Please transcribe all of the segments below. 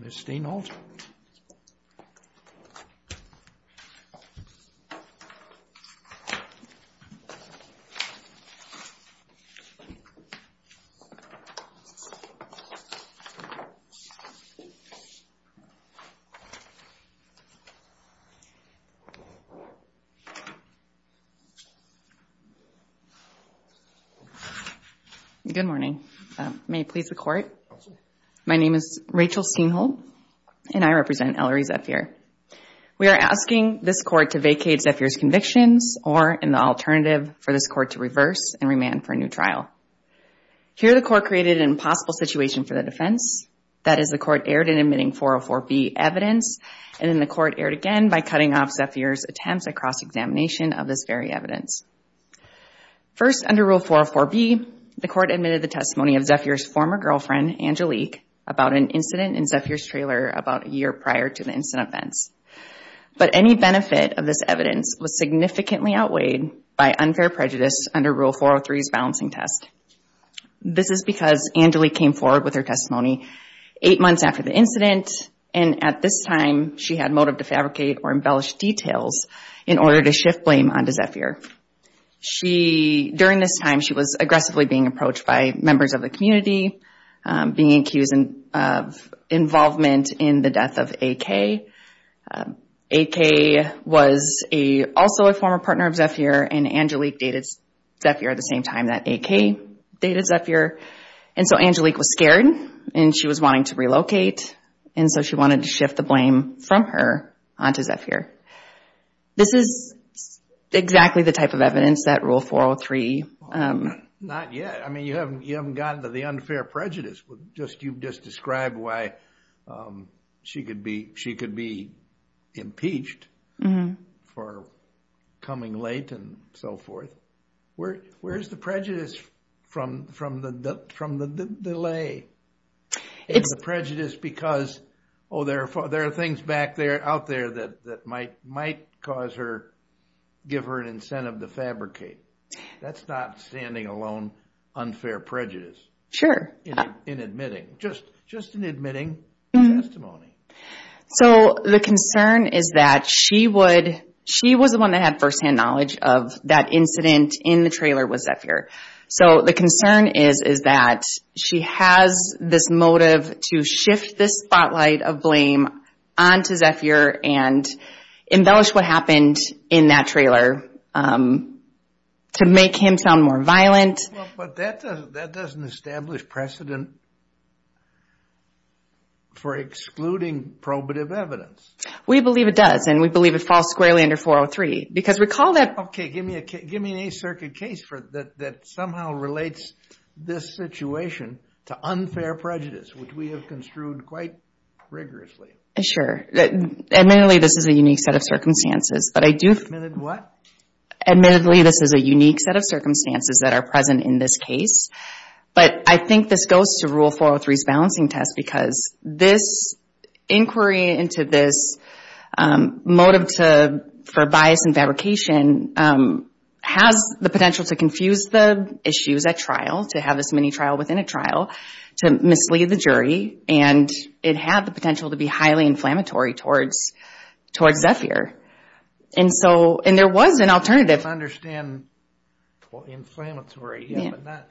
Ms. Stainholtz. Good morning. May it please the Court. My name is Rachel Stainholtz, and I represent Ellery Zephier. We are asking this Court to vacate Zephier's convictions or, in the alternative, for this Here, the Court created an impossible situation for the defense. That is, the Court erred in admitting 404B evidence, and then the Court erred again by cutting off Zephier's attempts at cross-examination of this very evidence. First, under Rule 404B, the Court admitted the testimony of Zephier's former girlfriend, Angelique, about an incident in Zephier's trailer about a year prior to the incident events. But any benefit of this evidence was significantly outweighed by unfair prejudice under Rule 403's balancing test. This is because Angelique came forward with her testimony eight months after the incident, and at this time, she had motive to fabricate or embellish details in order to shift blame onto Zephier. During this time, she was aggressively being approached by members of the community, being accused of involvement in the death of AK. AK was also a former partner of Zephier, and Angelique dated Zephier at the same time that AK dated Zephier. And so Angelique was scared, and she was wanting to relocate, and so she wanted to shift the blame from her onto Zephier. This is exactly the type of evidence that Rule 403... Not yet. I mean, you haven't gotten to the unfair prejudice. You've just described why she could be impeached for coming late and so forth. Where's the prejudice from the delay and the prejudice because, oh, there are things back there out there that might give her an incentive to fabricate? That's not standing alone unfair prejudice. Sure. In admitting, just in admitting testimony. So the concern is that she was the one that had firsthand knowledge of that incident in the trailer with Zephier. So the concern is that she has this motive to shift this spotlight of blame onto Zephier and embellish what happened in that trailer to make him sound more violent. But that doesn't establish precedent for excluding probative evidence. We believe it does, and we believe it falls squarely under 403 because recall that... Okay, give me an A circuit case that somehow relates this situation to unfair prejudice, which we have construed quite rigorously. Sure. Admittedly, this is a unique set of circumstances, but I do... Admitted what? Admittedly, this is a unique set of circumstances that are present in this case, but I think this goes to Rule 403's balancing test because this inquiry into this motive for bias and fabrication has the potential to confuse the issues at trial, to have this mini-trial within a trial, to mislead the jury, and it had the potential to be highly inflammatory towards Zephier. And so... And there was an alternative. I don't understand... Inflammatory. Yeah. But not...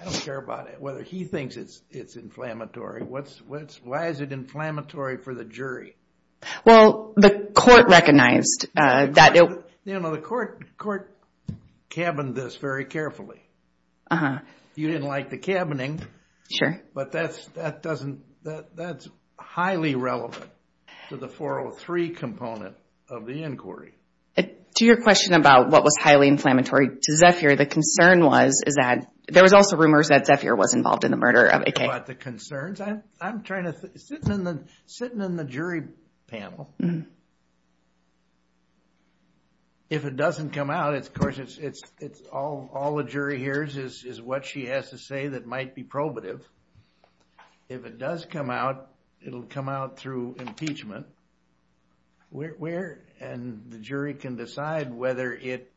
I don't care about it, whether he thinks it's inflammatory. Why is it inflammatory for the jury? Well, the court recognized that it... The court cabined this very carefully. Uh-huh. You didn't like the cabining. Sure. But that doesn't... That's highly relevant to the 403 component of the inquiry. To your question about what was highly inflammatory to Zephier, the concern was, is that... There was also rumors that Zephier was involved in the murder of A.K. I don't care about the concerns. I'm trying to... Sitting in the jury panel, if it doesn't come out, of course, it's... All the jury hears is what she has to say that might be probative. If it does come out, it'll come out through impeachment. And the jury can decide whether it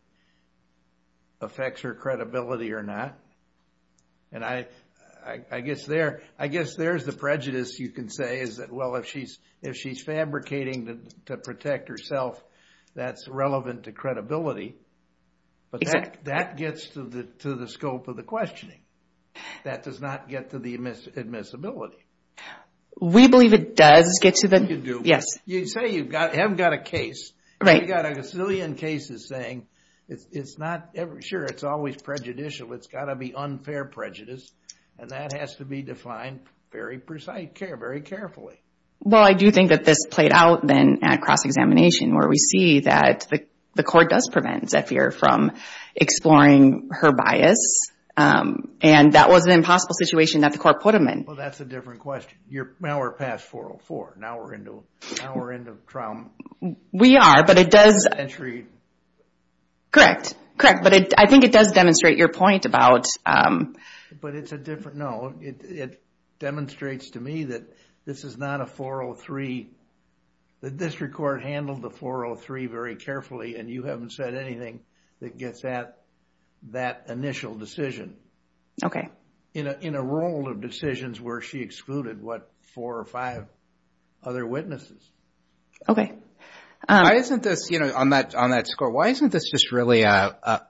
affects her credibility or not. And I guess there's the prejudice, you can say, is that, well, if she's fabricating to protect herself, that's relevant to credibility. Exactly. But that gets to the scope of the questioning. That does not get to the admissibility. We believe it does get to the... You do. Yes. You say you haven't got a case. Right. You've got a gazillion cases saying it's not... Sure, it's always prejudicial. It's got to be unfair prejudice. And that has to be defined very precisely, very carefully. Well, I do think that this played out, then, at cross-examination, where we see that the jury is exploring her bias. And that was an impossible situation that the court put them in. Well, that's a different question. Now we're past 404. Now we're into trial... We are, but it does... Century... Correct. Correct. But I think it does demonstrate your point about... But it's a different... No, it demonstrates to me that this is not a 403. The district court handled the 403 very carefully, and you haven't said anything that gets at that initial decision. In a role of decisions where she excluded, what, four or five other witnesses. Okay. Why isn't this... On that score, why isn't this just really a...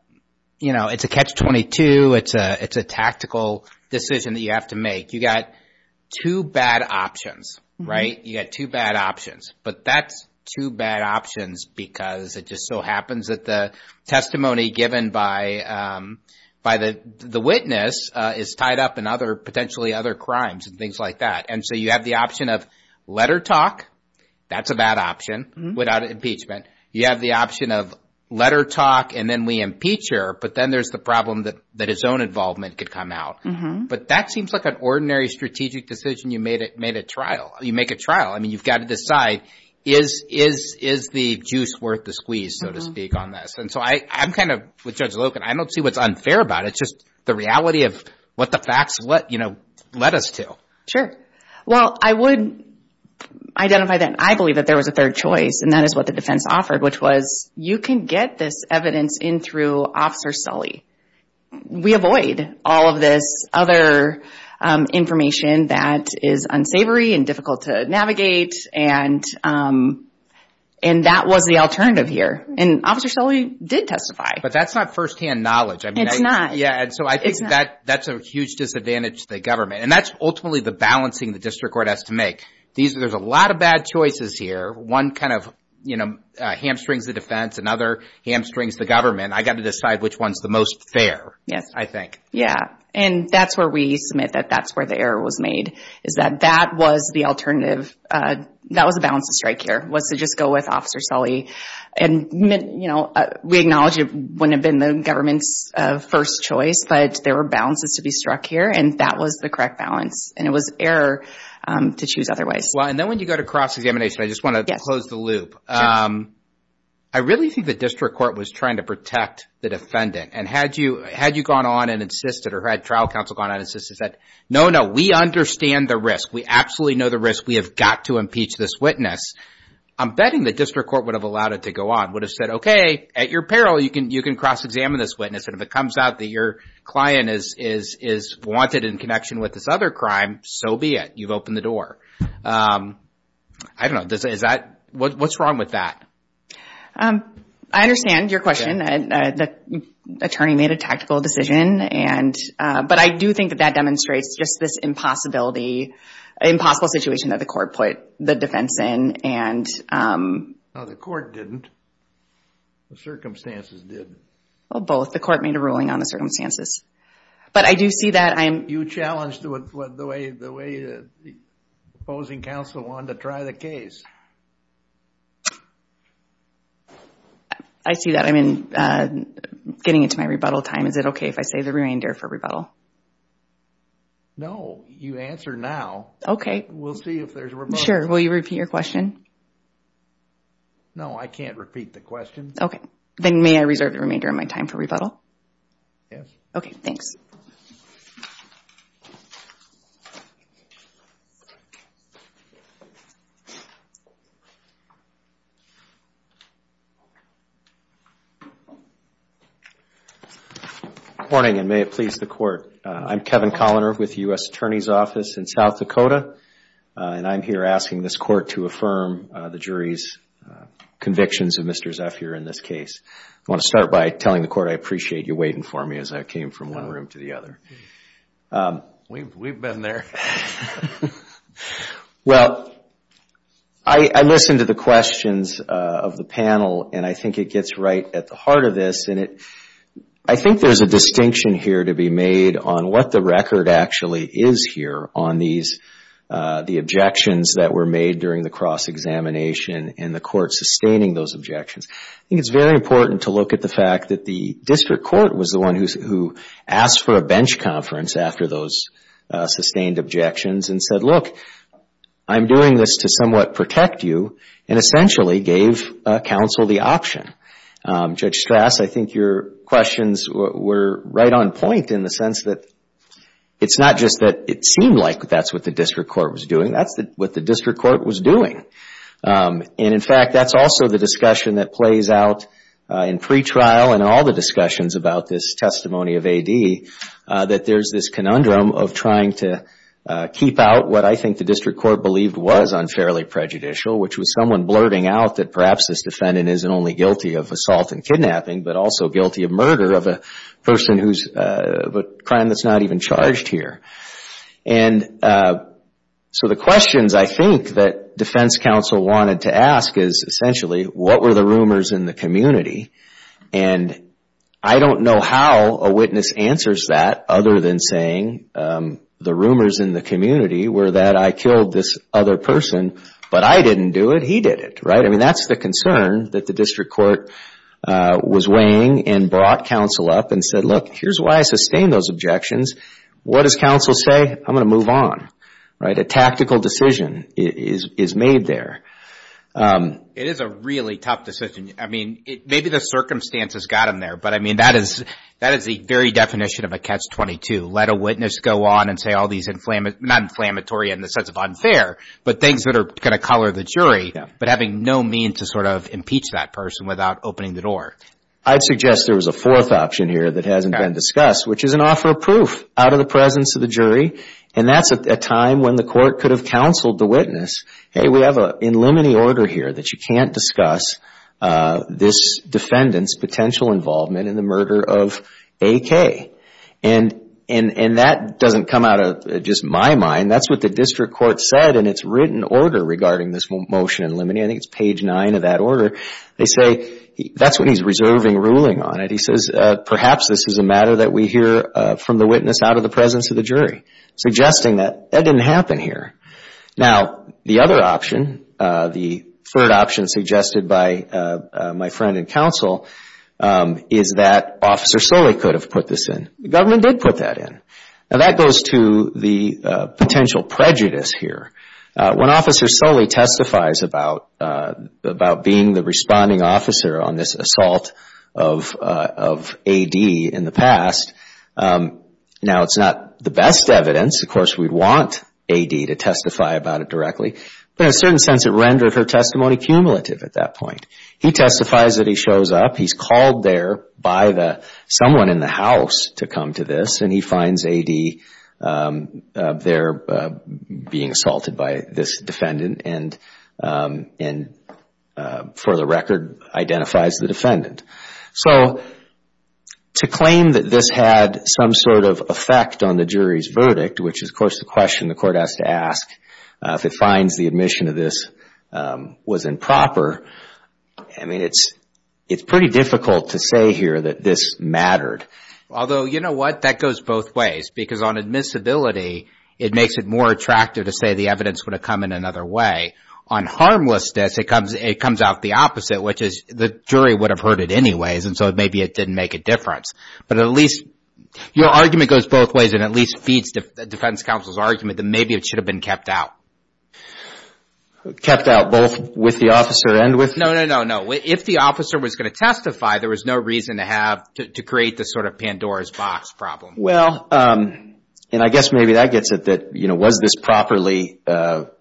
It's a catch-22. It's a tactical decision that you have to make. You got two bad options, right? You got two bad options. But that's two bad options because it just so happens that the testimony given by the witness is tied up in other... Potentially other crimes and things like that. And so you have the option of letter talk. That's a bad option without impeachment. You have the option of letter talk, and then we impeach her. But then there's the problem that his own involvement could come out. But that seems like an ordinary strategic decision. You make a trial. I mean, you've got to decide, is the juice worth the squeeze, so to speak, on this? And so I'm kind of, with Judge Loken, I don't see what's unfair about it. It's just the reality of what the facts led us to. Sure. Well, I would identify that I believe that there was a third choice, and that is what the defense offered, which was you can get this evidence in through Officer Sully. We avoid all of this other information that is unsavory and difficult to navigate, and that was the alternative here. And Officer Sully did testify. But that's not firsthand knowledge. It's not. Yeah, and so I think that's a huge disadvantage to the government. And that's ultimately the balancing the district court has to make. There's a lot of bad choices here. One kind of hamstrings the defense, another hamstrings the government. I've got to decide which one's the most fair, I think. Yeah, and that's where we submit that that's where the error was made, is that that was the alternative. That was the balance of strike here, was to just go with Officer Sully. And we acknowledge it wouldn't have been the government's first choice, but there were balances to be struck here, and that was the correct balance, and it was error to choose otherwise. Well, and then when you go to cross-examination, I just want to close the loop. I really think the district court was trying to protect the defendant. And had you gone on and insisted, or had trial counsel gone on and insisted, said, no, no, we understand the risk, we absolutely know the risk, we have got to impeach this witness, I'm betting the district court would have allowed it to go on, would have said, okay, at your peril, you can cross-examine this witness, and if it comes out that your client is wanted in connection with this other crime, so be it. You've opened the door. I don't know. What's wrong with that? I understand your question. The attorney made a tactical decision, but I do think that that demonstrates just this impossibility, impossible situation that the court put the defense in. No, the court didn't. The circumstances did. Well, both. The court made a ruling on the circumstances. But I do see that I'm... You challenged the way the opposing counsel wanted to try the case. I see that. I mean, getting into my rebuttal time, is it okay if I save the remainder for rebuttal? No. You answer now. Okay. We'll see if there's a rebuttal. Sure. Will you repeat your question? No, I can't repeat the question. Okay. Then may I reserve the remainder of my time for rebuttal? Yes. Okay, thanks. Good morning, and may it please the court. I'm Kevin Colliner with the U.S. Attorney's Office in South Dakota, and I'm here asking this court to affirm the jury's convictions of Mr. Zephyr in this case. I want to start by telling the court I appreciate you waiting for me as I came from one room to the other. We've been there. Well, I listened to the questions of the panel, and I think it gets right at the heart of this. I think there's a distinction here to be made on what the record actually is here on the objections that were made during the cross-examination and the court sustaining those objections. I think it's very important to look at the fact that the district court was the one who asked for a bench conference after those sustained objections and said, look, I'm doing this to somewhat protect you, and essentially gave counsel the option. Judge Strass, I think your questions were right on point in the sense that it's not just that it seemed like that's what the district court was doing, that's what the district court was doing. And in fact, that's also the discussion that plays out in pretrial and all the discussions about this testimony of A.D., that there's this conundrum of trying to keep out what I think the district court believed was unfairly prejudicial, which was someone blurting out that perhaps this defendant isn't only guilty of assault and kidnapping, but also guilty of murder of a person who's a crime that's not even charged here. And so the questions I think that defense counsel wanted to ask is essentially, what were the rumors in the community? And I don't know how a witness answers that other than saying, the rumors in the community were that I killed this other person, but I didn't do it, he did it, right? I mean, that's the concern that the district court was weighing and brought counsel up and said, look, here's why I sustained those objections, what does counsel say? I'm going to move on, right? A tactical decision is made there. It is a really tough decision. I mean, maybe the circumstances got him there, but I mean, that is the very definition of a catch-22. Let a witness go on and say all these, not inflammatory in the sense of unfair, but things that are going to color the jury, but having no means to sort of impeach that person without opening the door. I'd suggest there was a fourth option here that hasn't been discussed, which is an offer of proof out of the presence of the jury. And that's a time when the court could have counseled the witness, hey, we have an in limine order here that you can't discuss this defendant's potential involvement in the murder of AK. And that doesn't come out of just my mind. That's what the district court said in its written order regarding this motion in limine. I think it's page 9 of that order. They say that's when he's reserving ruling on it. He says perhaps this is a matter that we hear from the witness out of the presence of the jury, suggesting that that didn't happen here. Now, the other option, the third option suggested by my friend in counsel, is that Officer Soley could have put this in. The government did put that in. Now, that goes to the potential prejudice here. When Officer Soley testifies about being the responding officer on this assault of AD in the past, now it's not the best evidence. Of course, we'd want AD to testify about it directly. But in a certain sense, it rendered her testimony cumulative at that point. He testifies that he shows up. He's called there by someone in the house to come to this, and he finds AD there being assaulted by this defendant and, for the record, identifies the defendant. So to claim that this had some sort of effect on the jury's verdict, which is, of course, the question the court has to ask if it finds the admission of this was improper, I mean, it's pretty difficult to say here that this mattered. Although, you know what? That goes both ways because on admissibility, it makes it more attractive to say the evidence would have come in another way. On harmlessness, it comes out the opposite, which is the jury would have heard it anyways, and so maybe it didn't make a difference. But at least your argument goes both ways and at least feeds defense counsel's argument that maybe it should have been kept out. Kept out both with the officer and with? No, no, no, no. If the officer was going to testify, there was no reason to have to create this sort of Pandora's box problem. Well, and I guess maybe that gets at that, you know, was this properly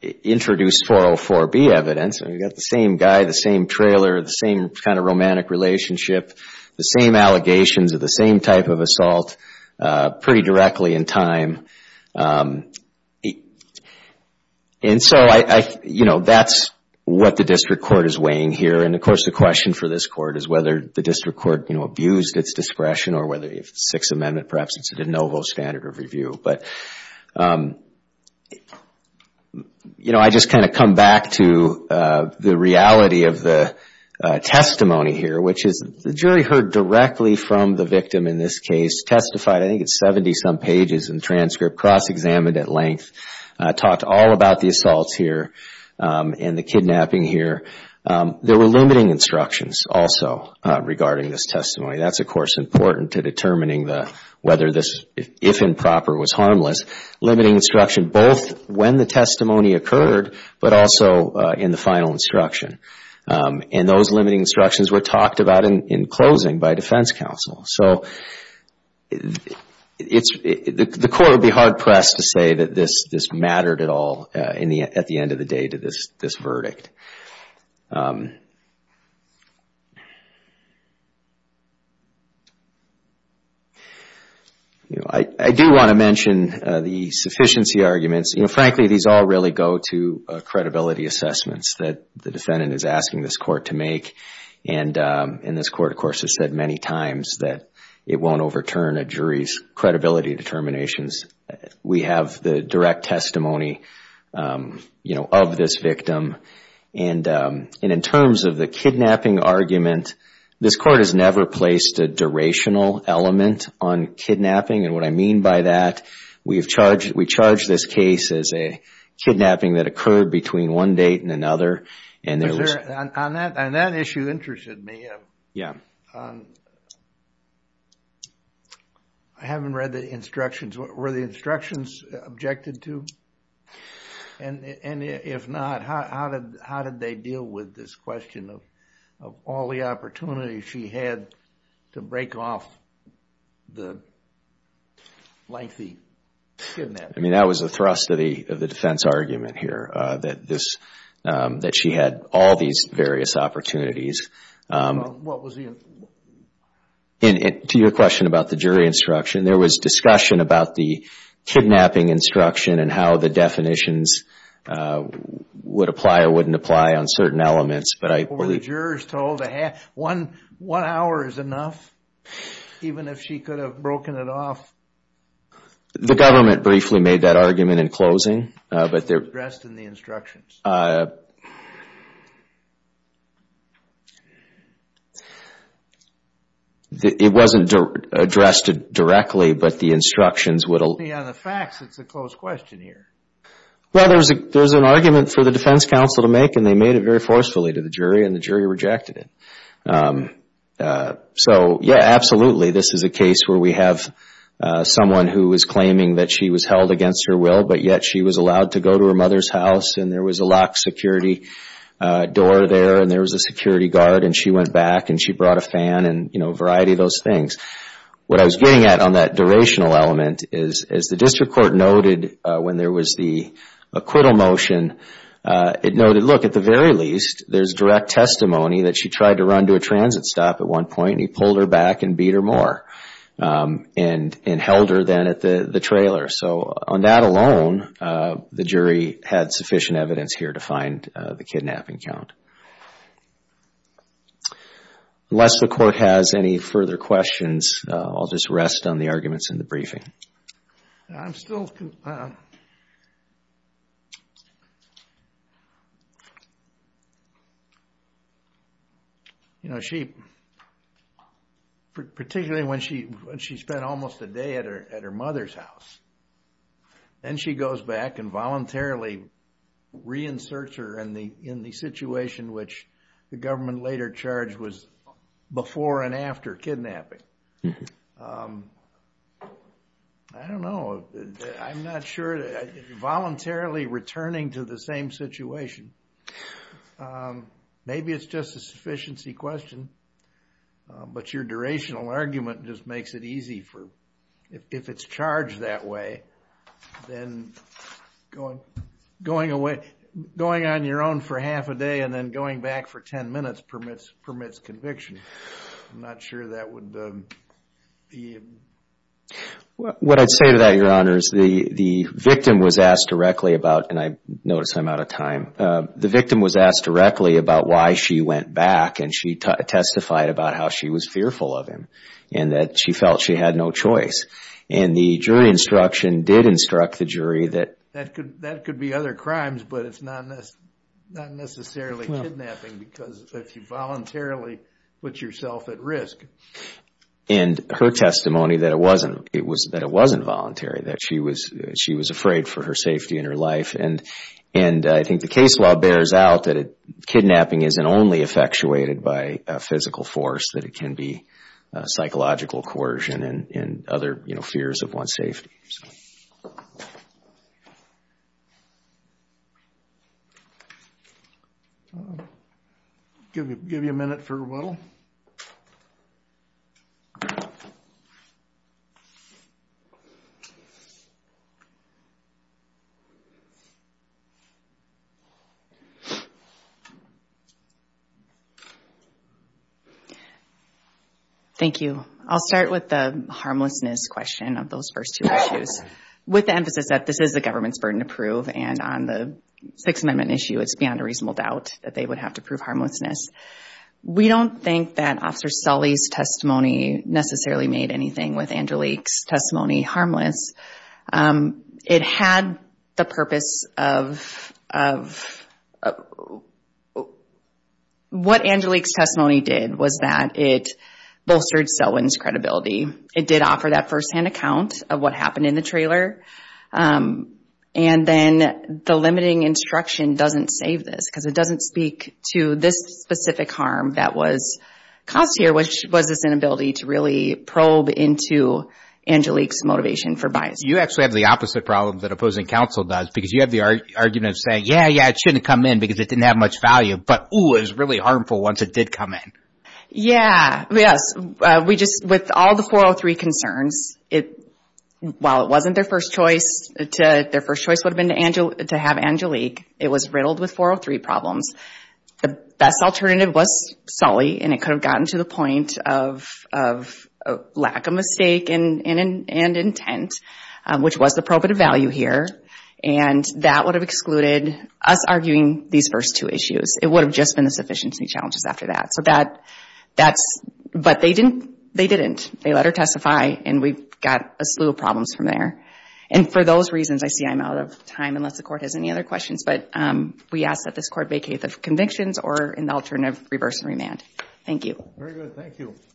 introduced 404B evidence? I mean, you've got the same guy, the same trailer, the same kind of romantic relationship, the same allegations of the same type of assault pretty directly in time. And so, you know, that's what the district court is weighing here. And, of course, the question for this court is whether the district court, you know, abused its discretion or whether the Sixth Amendment, perhaps it's a de novo standard of review. But, you know, I just kind of come back to the reality of the testimony here, which is the jury heard directly from the victim in this case, testified I think at 70-some pages in the transcript, cross-examined at length, talked all about the assaults here and the kidnapping here. There were limiting instructions also regarding this testimony. That's, of course, important to determining whether this, if improper, was harmless. Limiting instruction both when the testimony occurred, but also in the final instruction. And those limiting instructions were talked about in closing by defense counsel. So, the court would be hard-pressed to say that this mattered at all at the end of the day to this verdict. I do want to mention the sufficiency arguments. You know, frankly, these all really go to credibility assessments that the defendant is asking this court to make. And this court, of course, has said many times that it won't overturn a jury's credibility determinations. We have the direct testimony, you know, of this victim. And in terms of the kidnapping argument, this court has never placed a durational element on kidnapping. And what I mean by that, we've charged this case as a kidnapping that occurred between one date and another. And that issue interested me. I haven't read the instructions. Were the instructions objected to? And if not, how did they deal with this question of all the opportunities she had to break off the lengthy kidnapping? I mean, that was the thrust of the defense argument here, that she had all these various opportunities. To your question about the jury instruction, there was discussion about the kidnapping instruction and how the definitions would apply or wouldn't apply on certain elements. Were the jurors told one hour is enough, even if she could have broken it off? The government briefly made that argument in closing. It wasn't addressed in the instructions. It wasn't addressed directly, but the instructions would... On the facts, it's a closed question here. Well, there's an argument for the defense counsel to make, and they made it very forcefully to the jury, and the jury rejected it. So, yeah, absolutely, this is a case where we have someone who is claiming that she was held against her will, but yet she was allowed to go to her mother's house, and there was a locked security door there, and there was a security guard, and she went back, and she brought a fan, and a variety of those things. What I was getting at on that durational element is, as the district court noted when there was the acquittal motion, it noted, look, at the very least, there's direct testimony that she tried to run to a transit stop at one point, and he pulled her back and beat her more and held her then at the trailer. So on that alone, the jury had sufficient evidence here to find the kidnapping count. Unless the court has any further questions, I'll just rest on the arguments in the briefing. I'm still... You know, she, particularly when she spent almost a day at her mother's house, then she goes back and voluntarily reinserts her in the situation which the government later charged was before and after kidnapping. I don't know. I'm not sure. Voluntarily returning to the same situation. Maybe it's just a sufficiency question, but your durational argument just makes it easy for... If it's charged that way, then going on your own for half a day and then going back for 10 minutes permits conviction. I'm not sure that would be... What I'd say to that, Your Honor, is the victim was asked directly about, and I notice I'm out of time, the victim was asked directly about why she went back and she testified about how she was fearful of him and that she felt she had no choice. And the jury instruction did instruct the jury that... That could be other crimes, but it's not necessarily kidnapping because if you voluntarily put yourself at risk. And her testimony that it wasn't voluntary, that she was afraid for her safety and her life. And I think the case law bears out that kidnapping isn't only effectuated by physical force, that it can be psychological coercion and other fears of one's safety. Thank you. I'll give you a minute for rebuttal. Thank you. I'll start with the harmlessness question of those first two issues. With the emphasis that this is the government's burden to prove and on the Sixth Amendment issue, it's beyond a reasonable doubt that they would have to prove harmlessness. We don't think that Officer Sully's testimony necessarily made anything with Angelique's testimony harmless. It had the purpose of... What Angelique's testimony did was that it bolstered Selwyn's credibility. It did offer that firsthand account of what happened in the trailer. And then the limiting instruction doesn't save this because it doesn't speak to this specific harm that was caused here, which was this inability to really probe into Angelique's motivation for bias. You actually have the opposite problem that opposing counsel does because you have the argument of saying, yeah, yeah, it shouldn't come in because it didn't have much value. But, ooh, it was really harmful once it did come in. Yeah, yes. With all the 403 concerns, while it wasn't their first choice, their first choice would have been to have Angelique, it was riddled with 403 problems. The best alternative was Sully, and it could have gotten to the point of lack of mistake and intent, which was the probative value here, and that would have excluded us arguing these first two issues. It would have just been the sufficiency challenges after that. But they didn't. They let her testify, and we've got a slew of problems from there. And for those reasons, I see I'm out of time unless the Court has any other questions, but we ask that this Court vacate the convictions or an alternative reverse and remand. Thank you. Very good. Thank you.